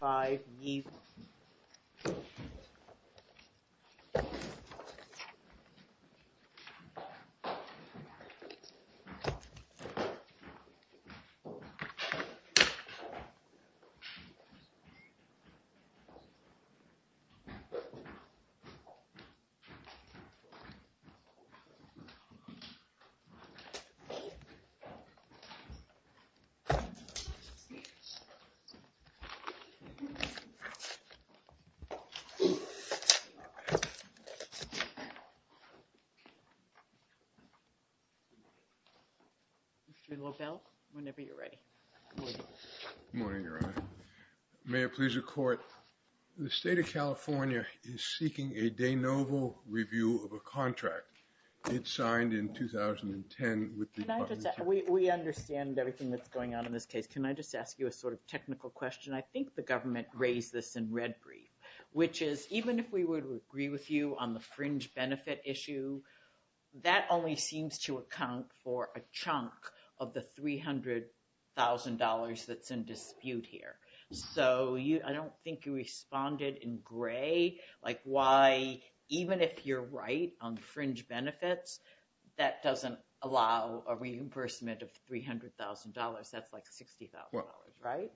5-E The State of California is seeking a de novo review of a contract. It's signed in 2010 We understand everything that's going on in this case. Can I just ask you a sort of technical question? I think the government raised this in red brief, which is even if we would agree with you on the fringe benefit issue That only seems to account for a chunk of the three hundred $1,000 that's in dispute here So you I don't think you responded in gray like why even if you're right on fringe benefits That doesn't allow a reimbursement of $300,000. That's like $60,000, right?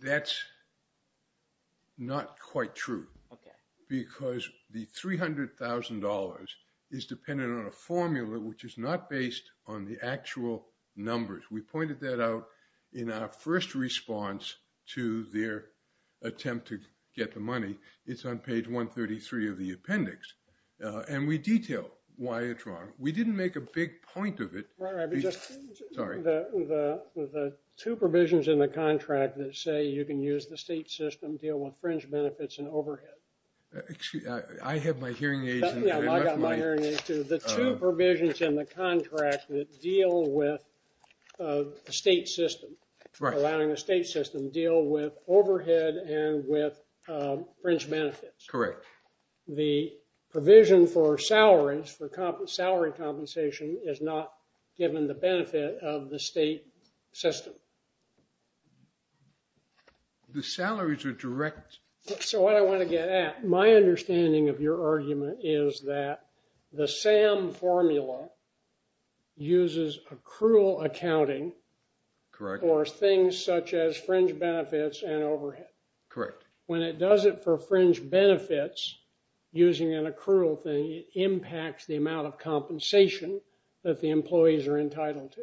that's Not quite true Because the $300,000 is dependent on a formula, which is not based on the actual numbers We pointed that out in our first response to their Attempt to get the money. It's on page 133 of the appendix And we detail why it's wrong. We didn't make a big point of it Two provisions in the contract that say you can use the state system deal with fringe benefits and overhead Actually, I have my hearing aids the two provisions in the contract that deal with the state system allowing the state system deal with overhead and with Fringe benefits, correct? The provision for salaries for salary compensation is not given the benefit of the state system The salaries are direct So what I want to get at my understanding of your argument is that the SAM formula uses accrual accounting Correct or things such as fringe benefits and overhead correct when it does it for fringe benefits Using an accrual thing it impacts the amount of compensation that the employees are entitled to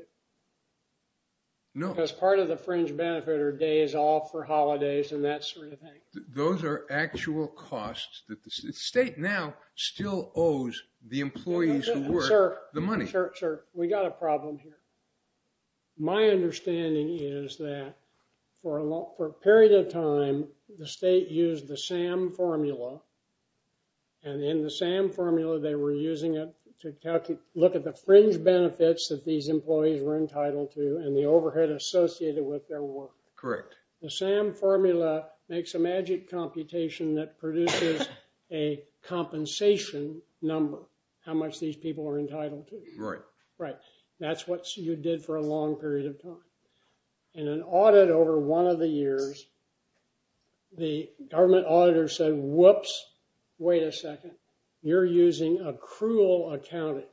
No, that's part of the fringe benefit or days off for holidays and that sort of thing Those are actual costs that the state now still owes the employees who work the money We got a problem here My understanding is that for a lot for a period of time the state used the SAM formula and In the SAM formula they were using it to look at the fringe Benefits that these employees were entitled to and the overhead associated with their work correct, the SAM formula makes a magic computation that produces a Compensation number how much these people are entitled to right, right That's what you did for a long period of time in an audit over one of the years The government auditor said whoops. Wait a second. You're using accrual accounting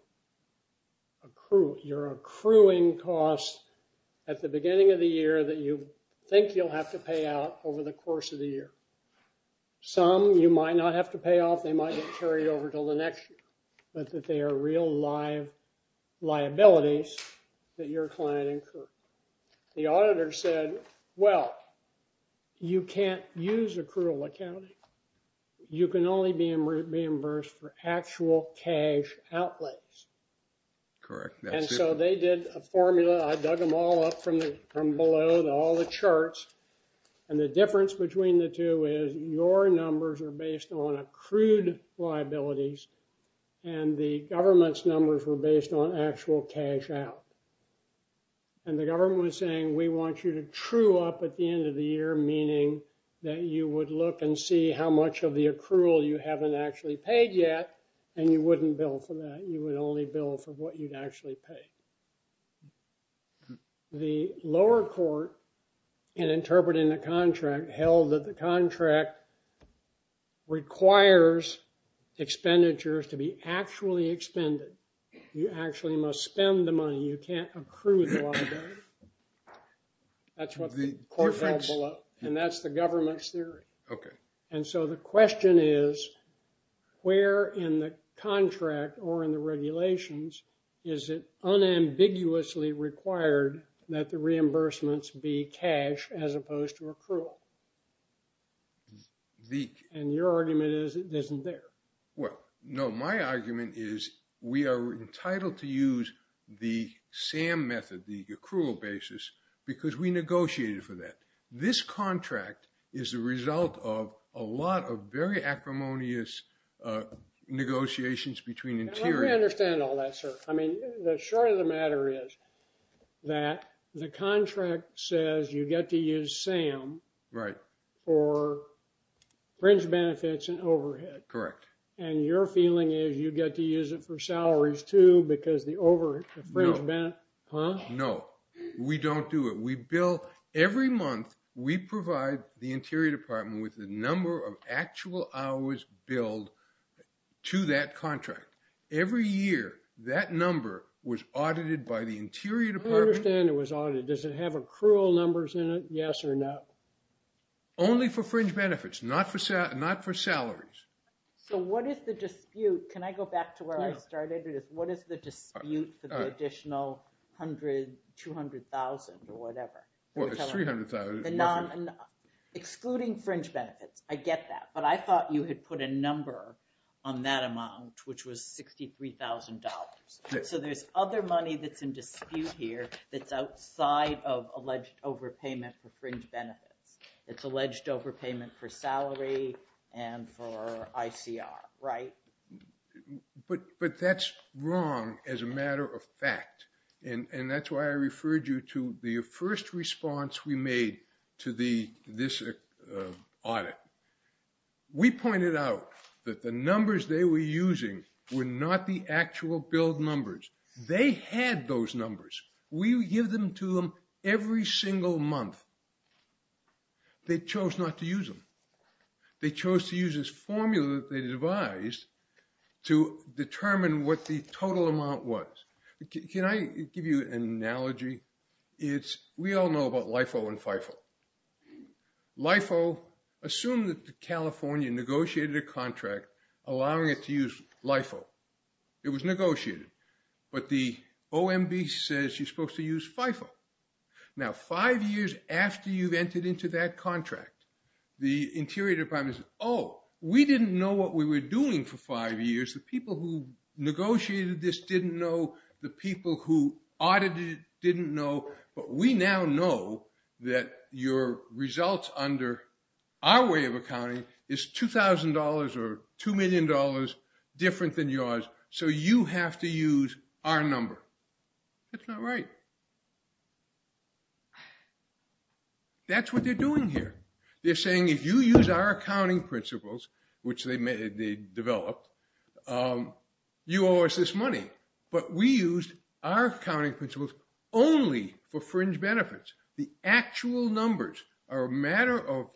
Accrual you're accruing costs at the beginning of the year that you think you'll have to pay out over the course of the year Some you might not have to pay off they might get carried over till the next year, but that they are real live liabilities that your client incurred the auditor said well You can't use accrual accounting You can only be reimbursed for actual cash outlays correct, and so they did a formula I dug them all up from the from below and all the charts and the difference between the two is your numbers are based on accrued liabilities and the government's numbers were based on actual cash out and The government was saying we want you to true up at the end of the year Meaning that you would look and see how much of the accrual you haven't actually paid yet And you wouldn't bill for that. You would only bill for what you'd actually pay The lower court in interpreting the contract held that the contract requires Expenditures to be actually expended you actually must spend the money you can't accrue That's what the court said below and that's the government's theory okay, and so the question is Where in the contract or in the regulations is it? Unambiguously required that the reimbursements be cash as opposed to accrual The and your argument is it isn't there well no my argument is we are entitled to use the Sam method the accrual basis because we negotiated for that this contract is the result of a lot of very acrimonious Negotiations between interior understand all that sir. I mean the short of the matter is that the contract says you get to use Sam right or Fringe benefits and overhead correct and your feeling is you get to use it for salaries too because the over No, we don't do it We bill every month we provide the interior department with the number of actual hours billed to that contract Every year that number was audited by the interior department was audited does it have accrual numbers in it. Yes or no Only for fringe benefits not for set not for salaries So what is the dispute can I go back to where I started it is what is the dispute the additional? 100 200,000 or whatever Excluding fringe benefits I get that but I thought you had put a number on that amount which was $63,000 so there's other money that's in dispute here. That's outside of alleged overpayment for fringe benefits It's alleged overpayment for salary and for ICR, right? But but that's wrong as a matter of fact and and that's why I referred you to the first response We made to the this audit We pointed out that the numbers they were using were not the actual billed numbers They had those numbers we give them to them every single month They chose not to use them They chose to use this formula that they devised To determine what the total amount was can I give you an analogy? It's we all know about LIFO and FIFO LIFO assumed that the California negotiated a contract allowing it to use LIFO It was negotiated, but the OMB says you're supposed to use FIFO Now five years after you've entered into that contract the interior departments Oh, we didn't know what we were doing for five years the people who? Negotiated this didn't know the people who audited didn't know But we now know that your results under our way of accounting is $2,000 or two million dollars different than yours, so you have to use our number It's not right That's What they're doing here? They're saying if you use our accounting principles, which they made they developed You owe us this money, but we used our accounting principles only for fringe benefits the actual numbers are a matter of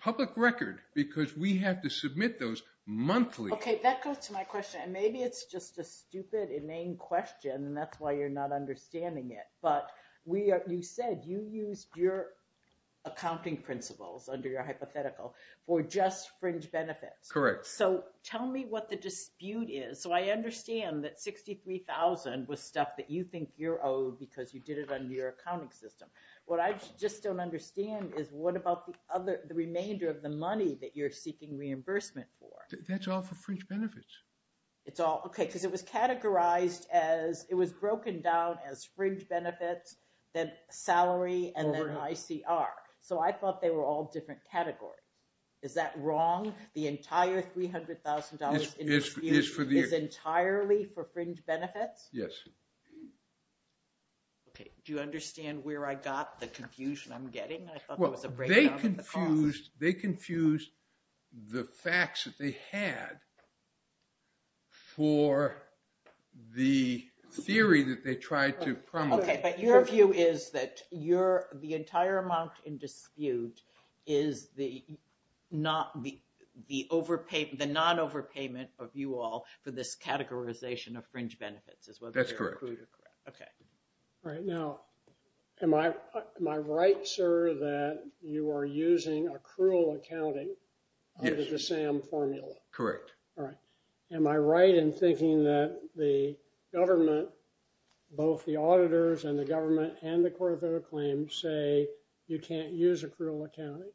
Public record because we have to submit those Monthly okay that goes to my question, and maybe it's just a stupid inane question, and that's why you're not understanding it But we are you said you used your Accounting principles under your hypothetical for just fringe benefits correct so tell me what the dispute is so I understand that 63,000 was stuff that you think you're owed because you did it under your accounting system What I just don't understand is what about the other the remainder of the money that you're seeking reimbursement for that's all for fringe benefits It's all okay because it was categorized as it was broken down as fringe benefits then Salary, and then I see are so I thought they were all different category is that wrong the entire $300,000 is for the is entirely for fringe benefits. Yes Okay, do you understand where I got the confusion I'm getting well they confused they confused the facts that they had For the Theory that they tried to promote your view is that you're the entire amount in dispute is the Not the the overpayment the non overpayment of you all for this categorization of fringe benefits as well That's correct Okay, right now am I am I right sir that you are using a cruel accounting The same formula correct all right am I right in thinking that the government Both the auditors and the government and the court of claims say you can't use a cruel accounting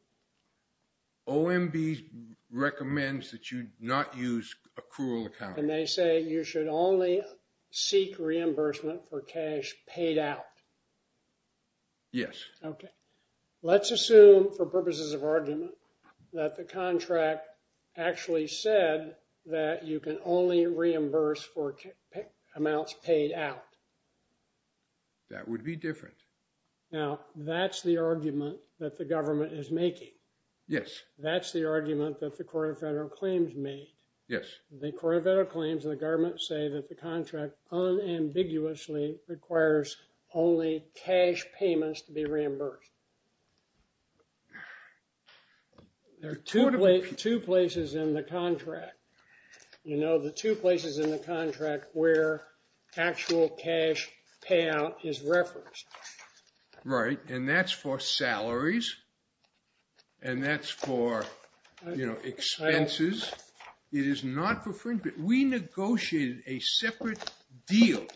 OMB Recommends that you not use a cruel account and they say you should only Seek reimbursement for cash paid out Yes, okay Let's assume for purposes of argument that the contract Actually said that you can only reimburse for kick amounts paid out That would be different Now that's the argument that the government is making. Yes. That's the argument that the court of federal claims made Yes, the court of federal claims in the government say that the contract unambiguously requires only cash payments to be reimbursed and They're totally two places in the contract You know the two places in the contract where? actual cash payout is referenced right, and that's for salaries and That's for you know expenses It is not for fringe, but we negotiated a separate deal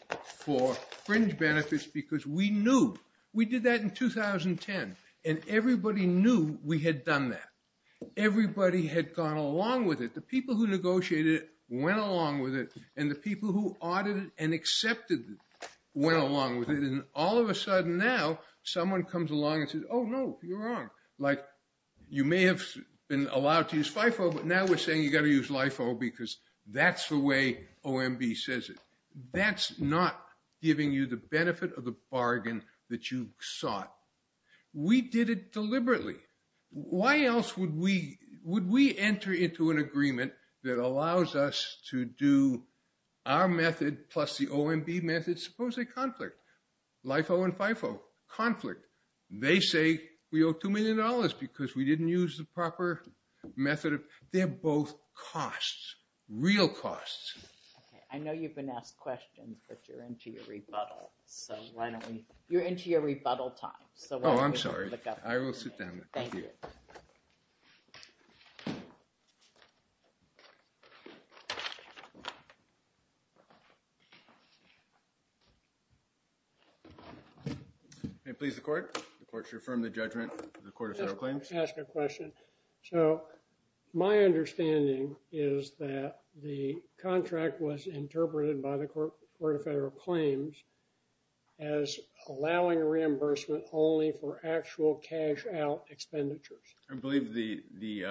for Benefits because we knew we did that in 2010 and everybody knew we had done that Everybody had gone along with it the people who negotiated it went along with it and the people who audited and accepted Went along with it and all of a sudden now someone comes along and says oh no you're wrong like You may have been allowed to use FIFO, but now we're saying you got to use LIFO because that's the way OMB says it That's not giving you the benefit of the bargain that you sought We did it deliberately Why else would we would we enter into an agreement that allows us to do? Our method plus the OMB methods suppose a conflict LIFO and FIFO Conflict they say we owe two million dollars because we didn't use the proper Method of they're both costs real costs I know you've been asked questions, but you're into your rebuttal so why don't we you're into your rebuttal time, so I'm sorry I will sit down Hey, please the court the courts reaffirm the judgment the court of federal claims ask a question so My understanding is that the contract was interpreted by the court where the federal claims as Allowing reimbursement only for actual cash out expenditures, I believe the the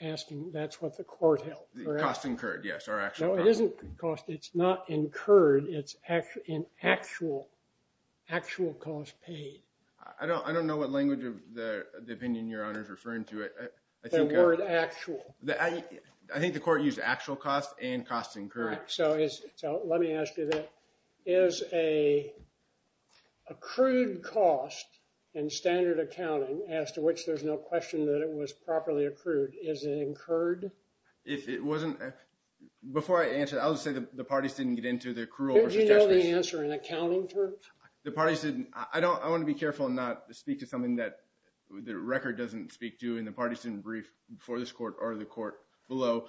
Asking that's what the court held the cost incurred. Yes, our actual it isn't cost. It's not incurred. It's actually an actual Actual cost paid. I don't I don't know what language of the opinion your honor is referring to it Actual that I I think the court used actual cost and cost incurred so is so let me ask you that is a Accrued cost and standard accounting as to which there's no question that it was properly accrued is it incurred if it wasn't Before I answer that I would say that the parties didn't get into their crew I'm gonna answer in accounting terms the parties didn't I don't I want to be careful not to speak to something that The record doesn't speak to in the partisan brief before this court or the court below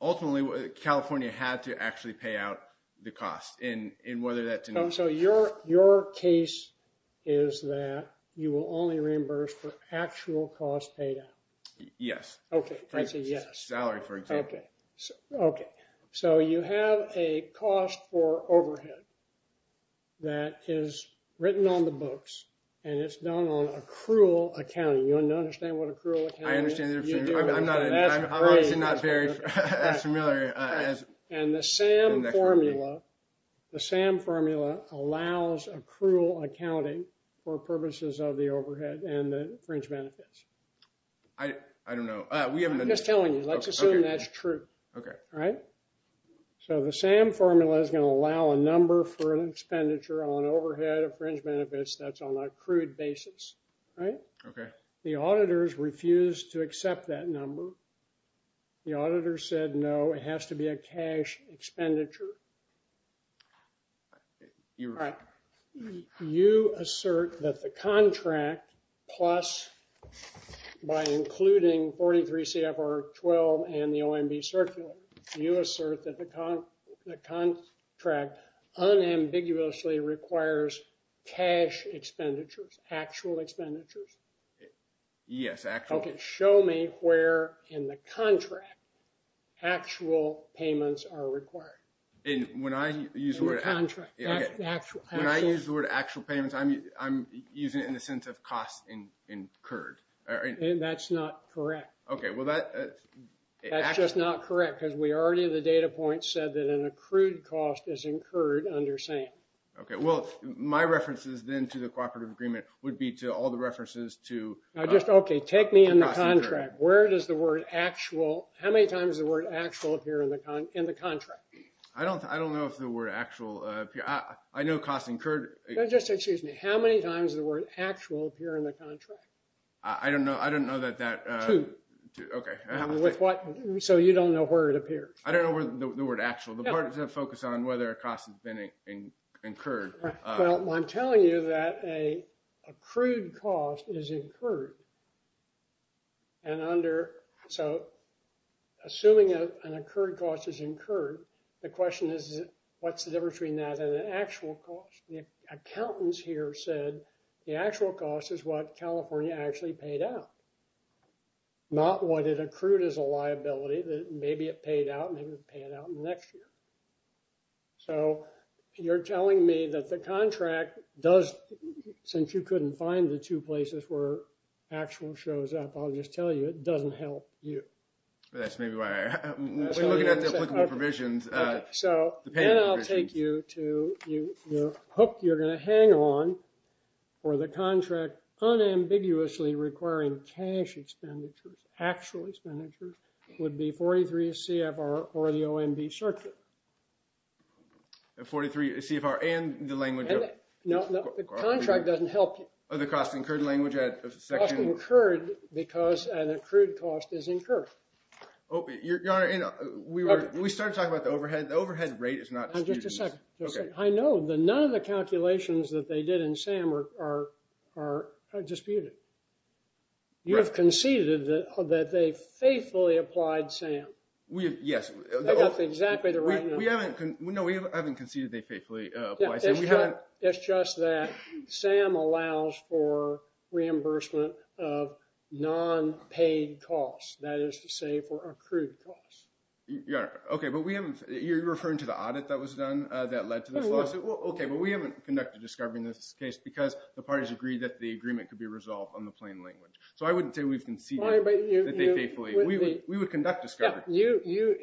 Ultimately what California had to actually pay out the cost in in whether that's and so your your case is That you will only reimburse for actual cost paid out. Yes. Okay, I see. Yes salary for okay Okay, so you have a cost for overhead That is written on the books and it's known on accrual accounting you understand what a cruel The SAM formula allows accrual accounting for purposes of the overhead and the fringe benefits I Don't know. We haven't just telling you let's assume. That's true. Okay, right So the SAM formula is going to allow a number for an expenditure on overhead of fringe benefits that's on a crude basis Right. Okay, the auditors refused to accept that number The auditor said no, it has to be a cash expenditure You right you assert that the contract plus By including 43 CFR 12 and the OMB circular you assert that the con the contract unambiguously requires cash expenditures actual expenditures Yes, actually show me where in the contract Actual payments are required and when I use the word Actual I use the word actual payments. I mean I'm using it in the sense of cost in incurred That's not correct. Okay. Well that That's just not correct because we already the data point said that an accrued cost is incurred under same Okay, well my references then to the cooperative agreement would be to all the references to I just okay Take me in the contract where it is the word actual how many times the word actual appear in the con in the contract I don't I don't know if the word actual yeah, I know cost incurred Just excuse me. How many times the word actual here in the contract? I don't know. I don't know that that Okay, what so you don't know where it appears? I don't know where the word actual the part is a focus on whether a cost has been in incurred I'm telling you that a accrued cost is incurred and under so Assuming an accrued cost is incurred. The question is what's the difference between that and an actual cost the Accountants here said the actual cost is what California actually paid out Not what it accrued as a liability that maybe it paid out and it would pay it out next year so You're telling me that the contract does Since you couldn't find the two places where actual shows up. I'll just tell you it doesn't help you That's maybe why I Provisions so I'll take you to you. You're hooked. You're going to hang on for the contract unambiguously requiring cash Expenditures actual expenditures would be 43 CFR or the OMB circuit 43 CFR and the language No Contract doesn't help or the cost incurred language at the second occurred because an accrued cost is incurred You're gonna you know, we were we started talking about the overhead. The overhead rate is not just a second Okay, I know the none of the calculations that they did in Sam are Disputed You have conceded that that they faithfully applied Sam. We have yes No, we haven't conceded they faithfully it's just that Sam allows for reimbursement of Non-paid costs that is to say for accrued costs. Yeah, okay, but we haven't you're referring to the audit that was done that led to Okay, but we haven't conducted discovery in this case because the parties agreed that the agreement could be resolved on the plain language So I wouldn't say we've been seen We would conduct discovery you you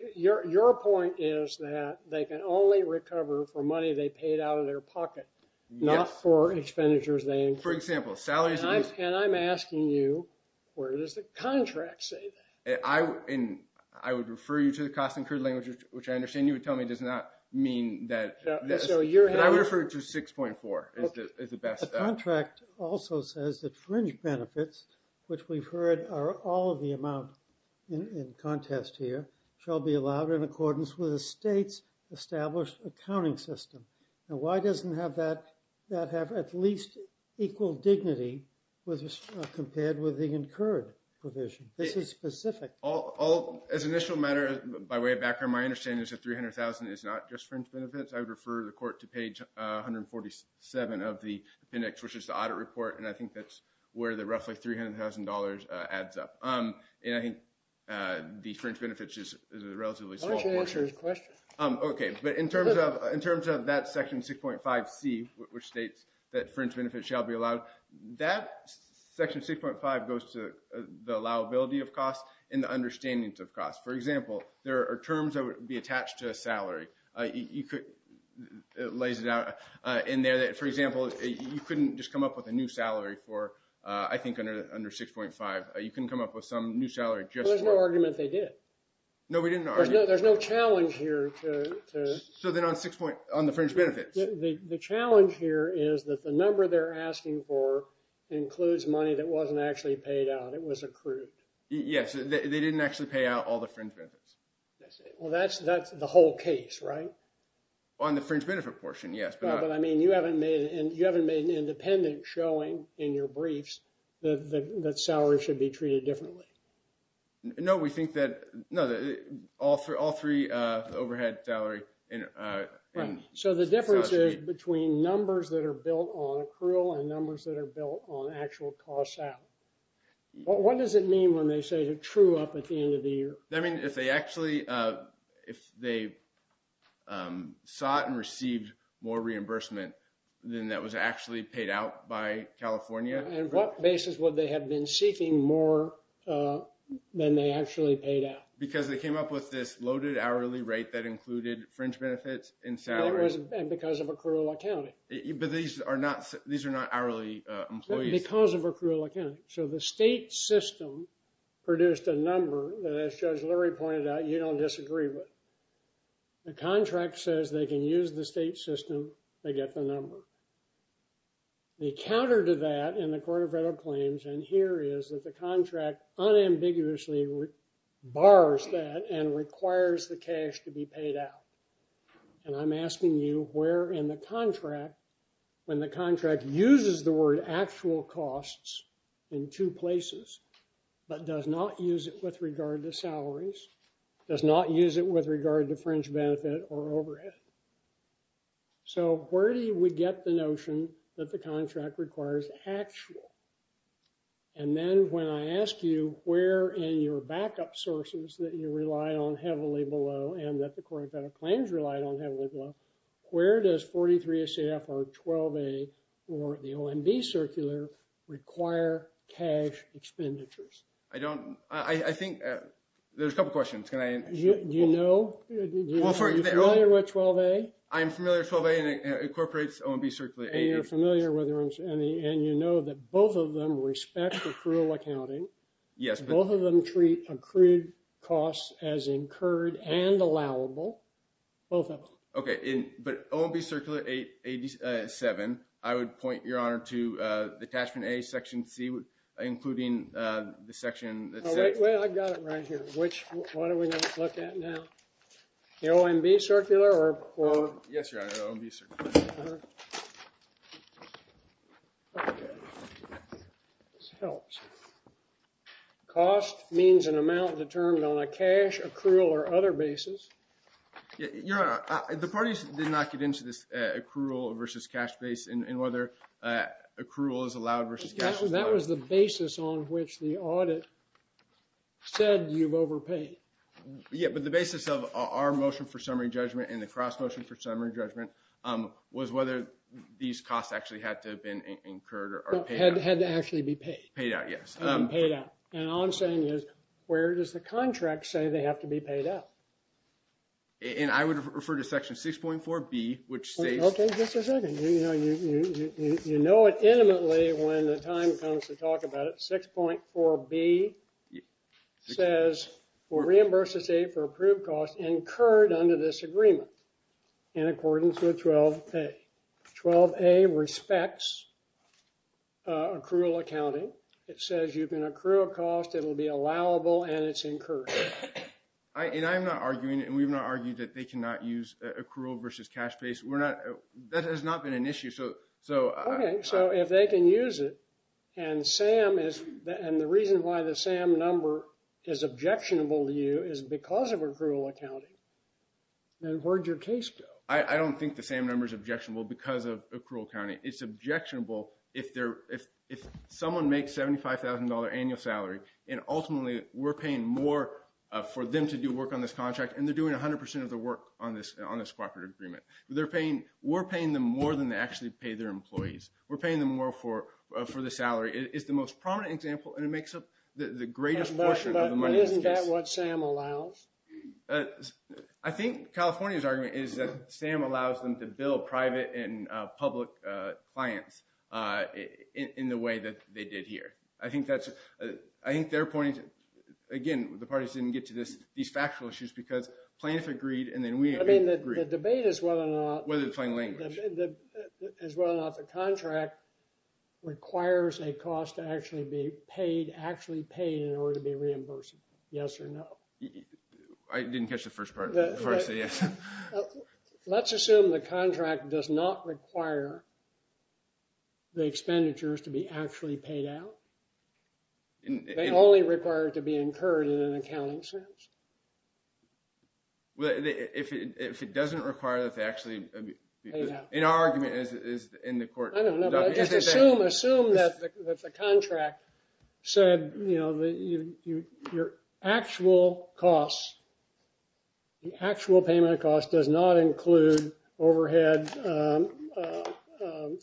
your point is that they can only recover for money They paid out of their pocket not for expenditures For example salaries and I'm asking you where does the contract say that I And I would refer you to the cost incurred language, which I understand you would tell me does not mean that So you're I would refer to six point four is the best contract also says that fringe benefits Which we've heard are all of the amount in Contest here shall be allowed in accordance with the state's established accounting system Now why doesn't have that that have at least equal dignity with us compared with the incurred Provision this is specific all as initial matter by way of background. My understanding is that 300,000 is not just fringe benefits I would refer the court to page 147 of the index which is the audit report and I think that's where the roughly three hundred thousand dollars adds up. Um, and I think The fringe benefits is a relatively small Okay, but in terms of in terms of that section 6.5 C which states that fringe benefits shall be allowed that Section 6.5 goes to the allowability of cost in the understandings of cost For example, there are terms that would be attached to a salary you could Lays it out in there that for example You couldn't just come up with a new salary for I think under under 6.5 You can come up with some new salary just no argument. They did. No, we didn't know there's no challenge here So then on six point on the fringe benefits the challenge here is that the number they're asking for Includes money that wasn't actually paid out. It was accrued. Yes. They didn't actually pay out all the fringe benefits Well, that's that's the whole case, right? On the fringe benefit portion. Yes, but I mean you haven't made it and you haven't made an independent showing in your briefs That salary should be treated differently No, we think that know that all for all three overhead salary in So the difference is between numbers that are built on accrual and numbers that are built on actual costs out What does it mean when they say you're true up at the end of the year? I mean if they actually if they Saw it and received more reimbursement than that was actually paid out by California and what basis would they have been seeking more? Than they actually paid out because they came up with this loaded hourly rate that included fringe benefits in salaries Because of a cruel accounting, but these are not these are not hourly Because of a cruel accounting so the state system Produced a number that as Judge Lurie pointed out. You don't disagree with The contract says they can use the state system they get the number The counter to that in the court of federal claims and here is that the contract unambiguously Bars that and requires the cash to be paid out And I'm asking you where in the contract when the contract uses the word actual costs in two places But does not use it with regard to salaries does not use it with regard to fringe benefit or overhead so where do we get the notion that the contract requires actual and Then when I ask you where in your backup sources that you rely on heavily below and that the court of federal claims relied on Heavily below where does 43 a CFR 12 a or the OMB circular? require cash Expenditures, I don't I think there's a couple questions can I do you know? What 12 a I'm familiar 12 a and it incorporates OMB circular And you're familiar with rooms and the and you know that both of them respect accrual accounting Yes, both of them treat accrued costs as incurred and allowable Both of them okay in but OMB circular 8 87 I would point your honor to the attachment a section C. Would including the section Which what are we going to look at now the OMB circular or? Cost means an amount determined on a cash accrual or other basis Yeah, you know the parties did not get into this accrual versus cash base and whether Accrual is allowed versus that was the basis on which the audit Said you've overpaid Yeah, but the basis of our motion for summary judgment and the cross motion for summary judgment Was whether these costs actually had to have been incurred or had had to actually be paid paid out Yes, I'm paid out and all I'm saying is where does the contract say they have to be paid out And I would refer to section six point four B. Which say okay? You know it intimately when the time comes to talk about it six point four B Says or reimburses a for approved cost incurred under this agreement in accordance with 12 a 12 a respects Accrual accounting it says you can accrue a cost it will be allowable and it's incurred And I'm not arguing it and we've not argued that they cannot use accrual versus cash base We're not that has not been an issue so so okay, so if they can use it and Sam is and the reason why the same number is objectionable to you is because of accrual accounting And where'd your case go? I I don't think the same number is objectionable because of accrual accounting It's objectionable if there if if someone makes seventy five thousand dollar annual salary and ultimately we're paying more For them to do work on this contract, and they're doing a hundred percent of the work on this on this cooperative agreement They're paying we're paying them more than they actually pay their employees We're paying them more for for the salary is the most prominent example, and it makes up the the greatest portion I Think California's argument is that Sam allows them to build private and public clients? In the way that they did here. I think that's I think their point Again the parties didn't get to this these factual issues because plaintiff agreed, and then we agree the debate is well I'm not whether the fine language Is well not the contract? Requires a cost to actually be paid actually paid in order to be reimbursed yes, or no I? Didn't catch the first part Let's assume the contract does not require The expenditures to be actually paid out And they only require it to be incurred in an accounting sense Well if it doesn't require that they actually in our argument is in the court Contract said you know the you your actual costs The actual payment of cost does not include overhead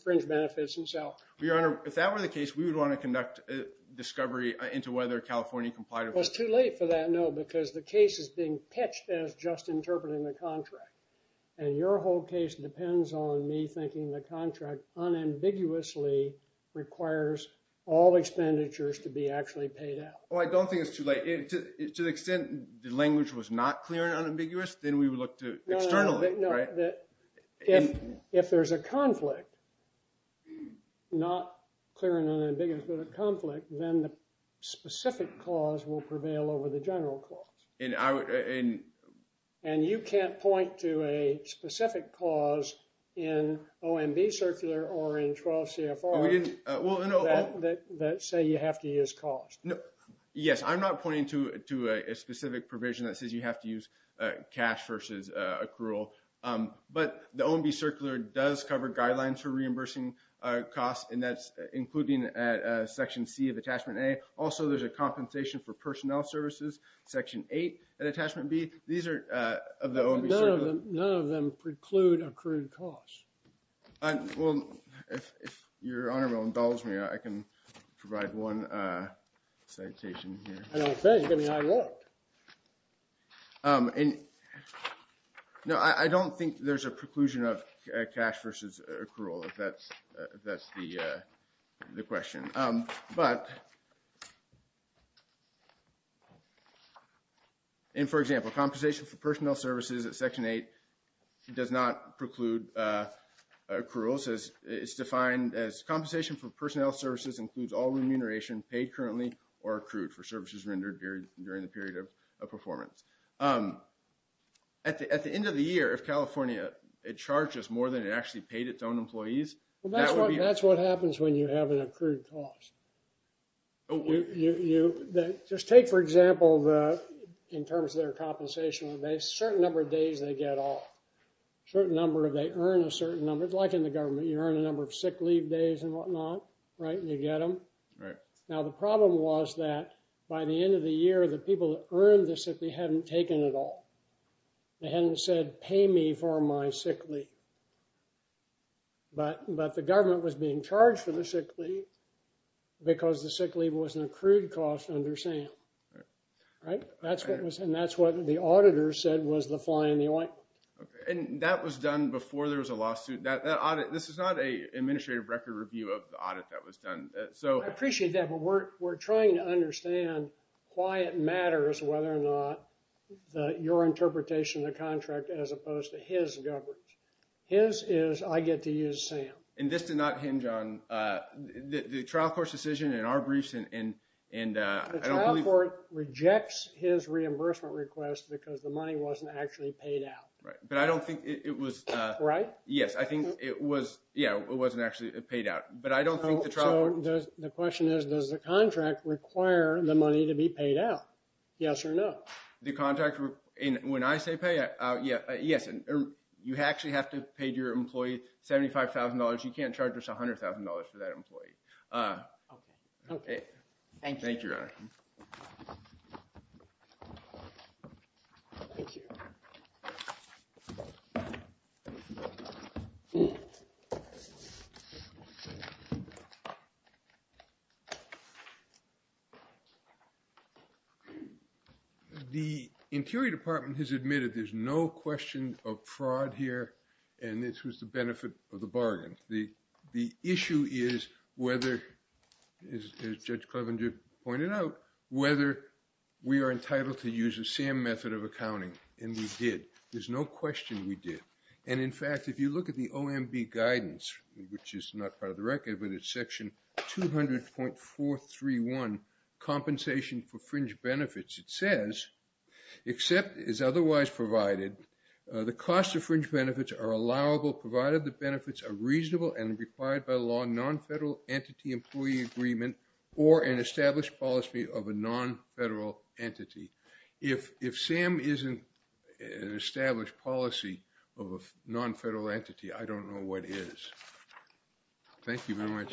Fringe benefits himself your honor if that were the case we would want to conduct a discovery into whether California complied It was too late for that no because the case is being pitched as just interpreting the contract and your whole case depends on me thinking the contract unambiguously requires all Expenditures to be actually paid out well I don't think it's too late to the extent the language was not clear and unambiguous, then we would look to Externally no that if if there's a conflict not clear and unambiguous, but a conflict then the specific clause will prevail over the general clause and I would in and you can't point to a specific clause in OMB circular or in 12 CFR we didn't well That say you have to use cost no yes I'm not pointing to it to a specific provision that says you have to use cash versus accrual But the OMB circular does cover guidelines for reimbursing Costs and that's including at section C of attachment a also There's a compensation for personnel services section 8 and attachment B. These are None of them preclude accrued costs Well if your honor will indulge me I can provide one Citation here And no, I don't think there's a preclusion of cash versus accrual if that's that's the the question but In for example compensation for personnel services at section 8 it does not preclude Cruel says it's defined as compensation for personnel services includes all remuneration paid currently or accrued for services rendered during the period of performance At the end of the year if California it charges more than it actually paid its own employees That's what happens when you have an accrued cost You just take for example In terms of their compensation they certain number of days they get off Certain number of they earn a certain number like in the government you earn a number of sick leave days and whatnot Right you get them right now The problem was that by the end of the year the people that earned this if they hadn't taken at all They hadn't said pay me for my sick leave But but the government was being charged for the sick leave Because the sick leave was an accrued cost under Sam All right, that's what was and that's what the auditor said was the fly in the ointment And that was done before there was a lawsuit that audit This is not a administrative record review of the audit that was done so I appreciate that but we're we're trying to understand Why it matters whether or not? Your interpretation of the contract as opposed to his government his is I get to use Sam and this did not hinge on The trial court's decision in our briefs and and and Court rejects his reimbursement request because the money wasn't actually paid out right, but I don't think it was right Yes, I think it was yeah It wasn't actually paid out, but I don't know the question is does the contract require the money to be paid out Yes, or no the contractor and when I say pay. Yeah, yes, and you actually have to pay to your employee $75,000 you can't charge us $100,000 for that employee Okay, okay, thank you The interior department has admitted There's no question of fraud here, and this was the benefit of the bargain the the issue is whether Is judge Cleveland you pointed out whether? We are entitled to use a Sam method of accounting and we did there's no question We did and in fact if you look at the OMB guidance, which is not part of the record, but it's section 200.431 compensation for fringe benefits it says Except is otherwise provided The cost of fringe benefits are allowable provided the benefits are reasonable and required by law non-federal entity employee agreement or an established policy of a non-federal entity if if Sam isn't Established policy of a non-federal entity. I don't know what is Thank you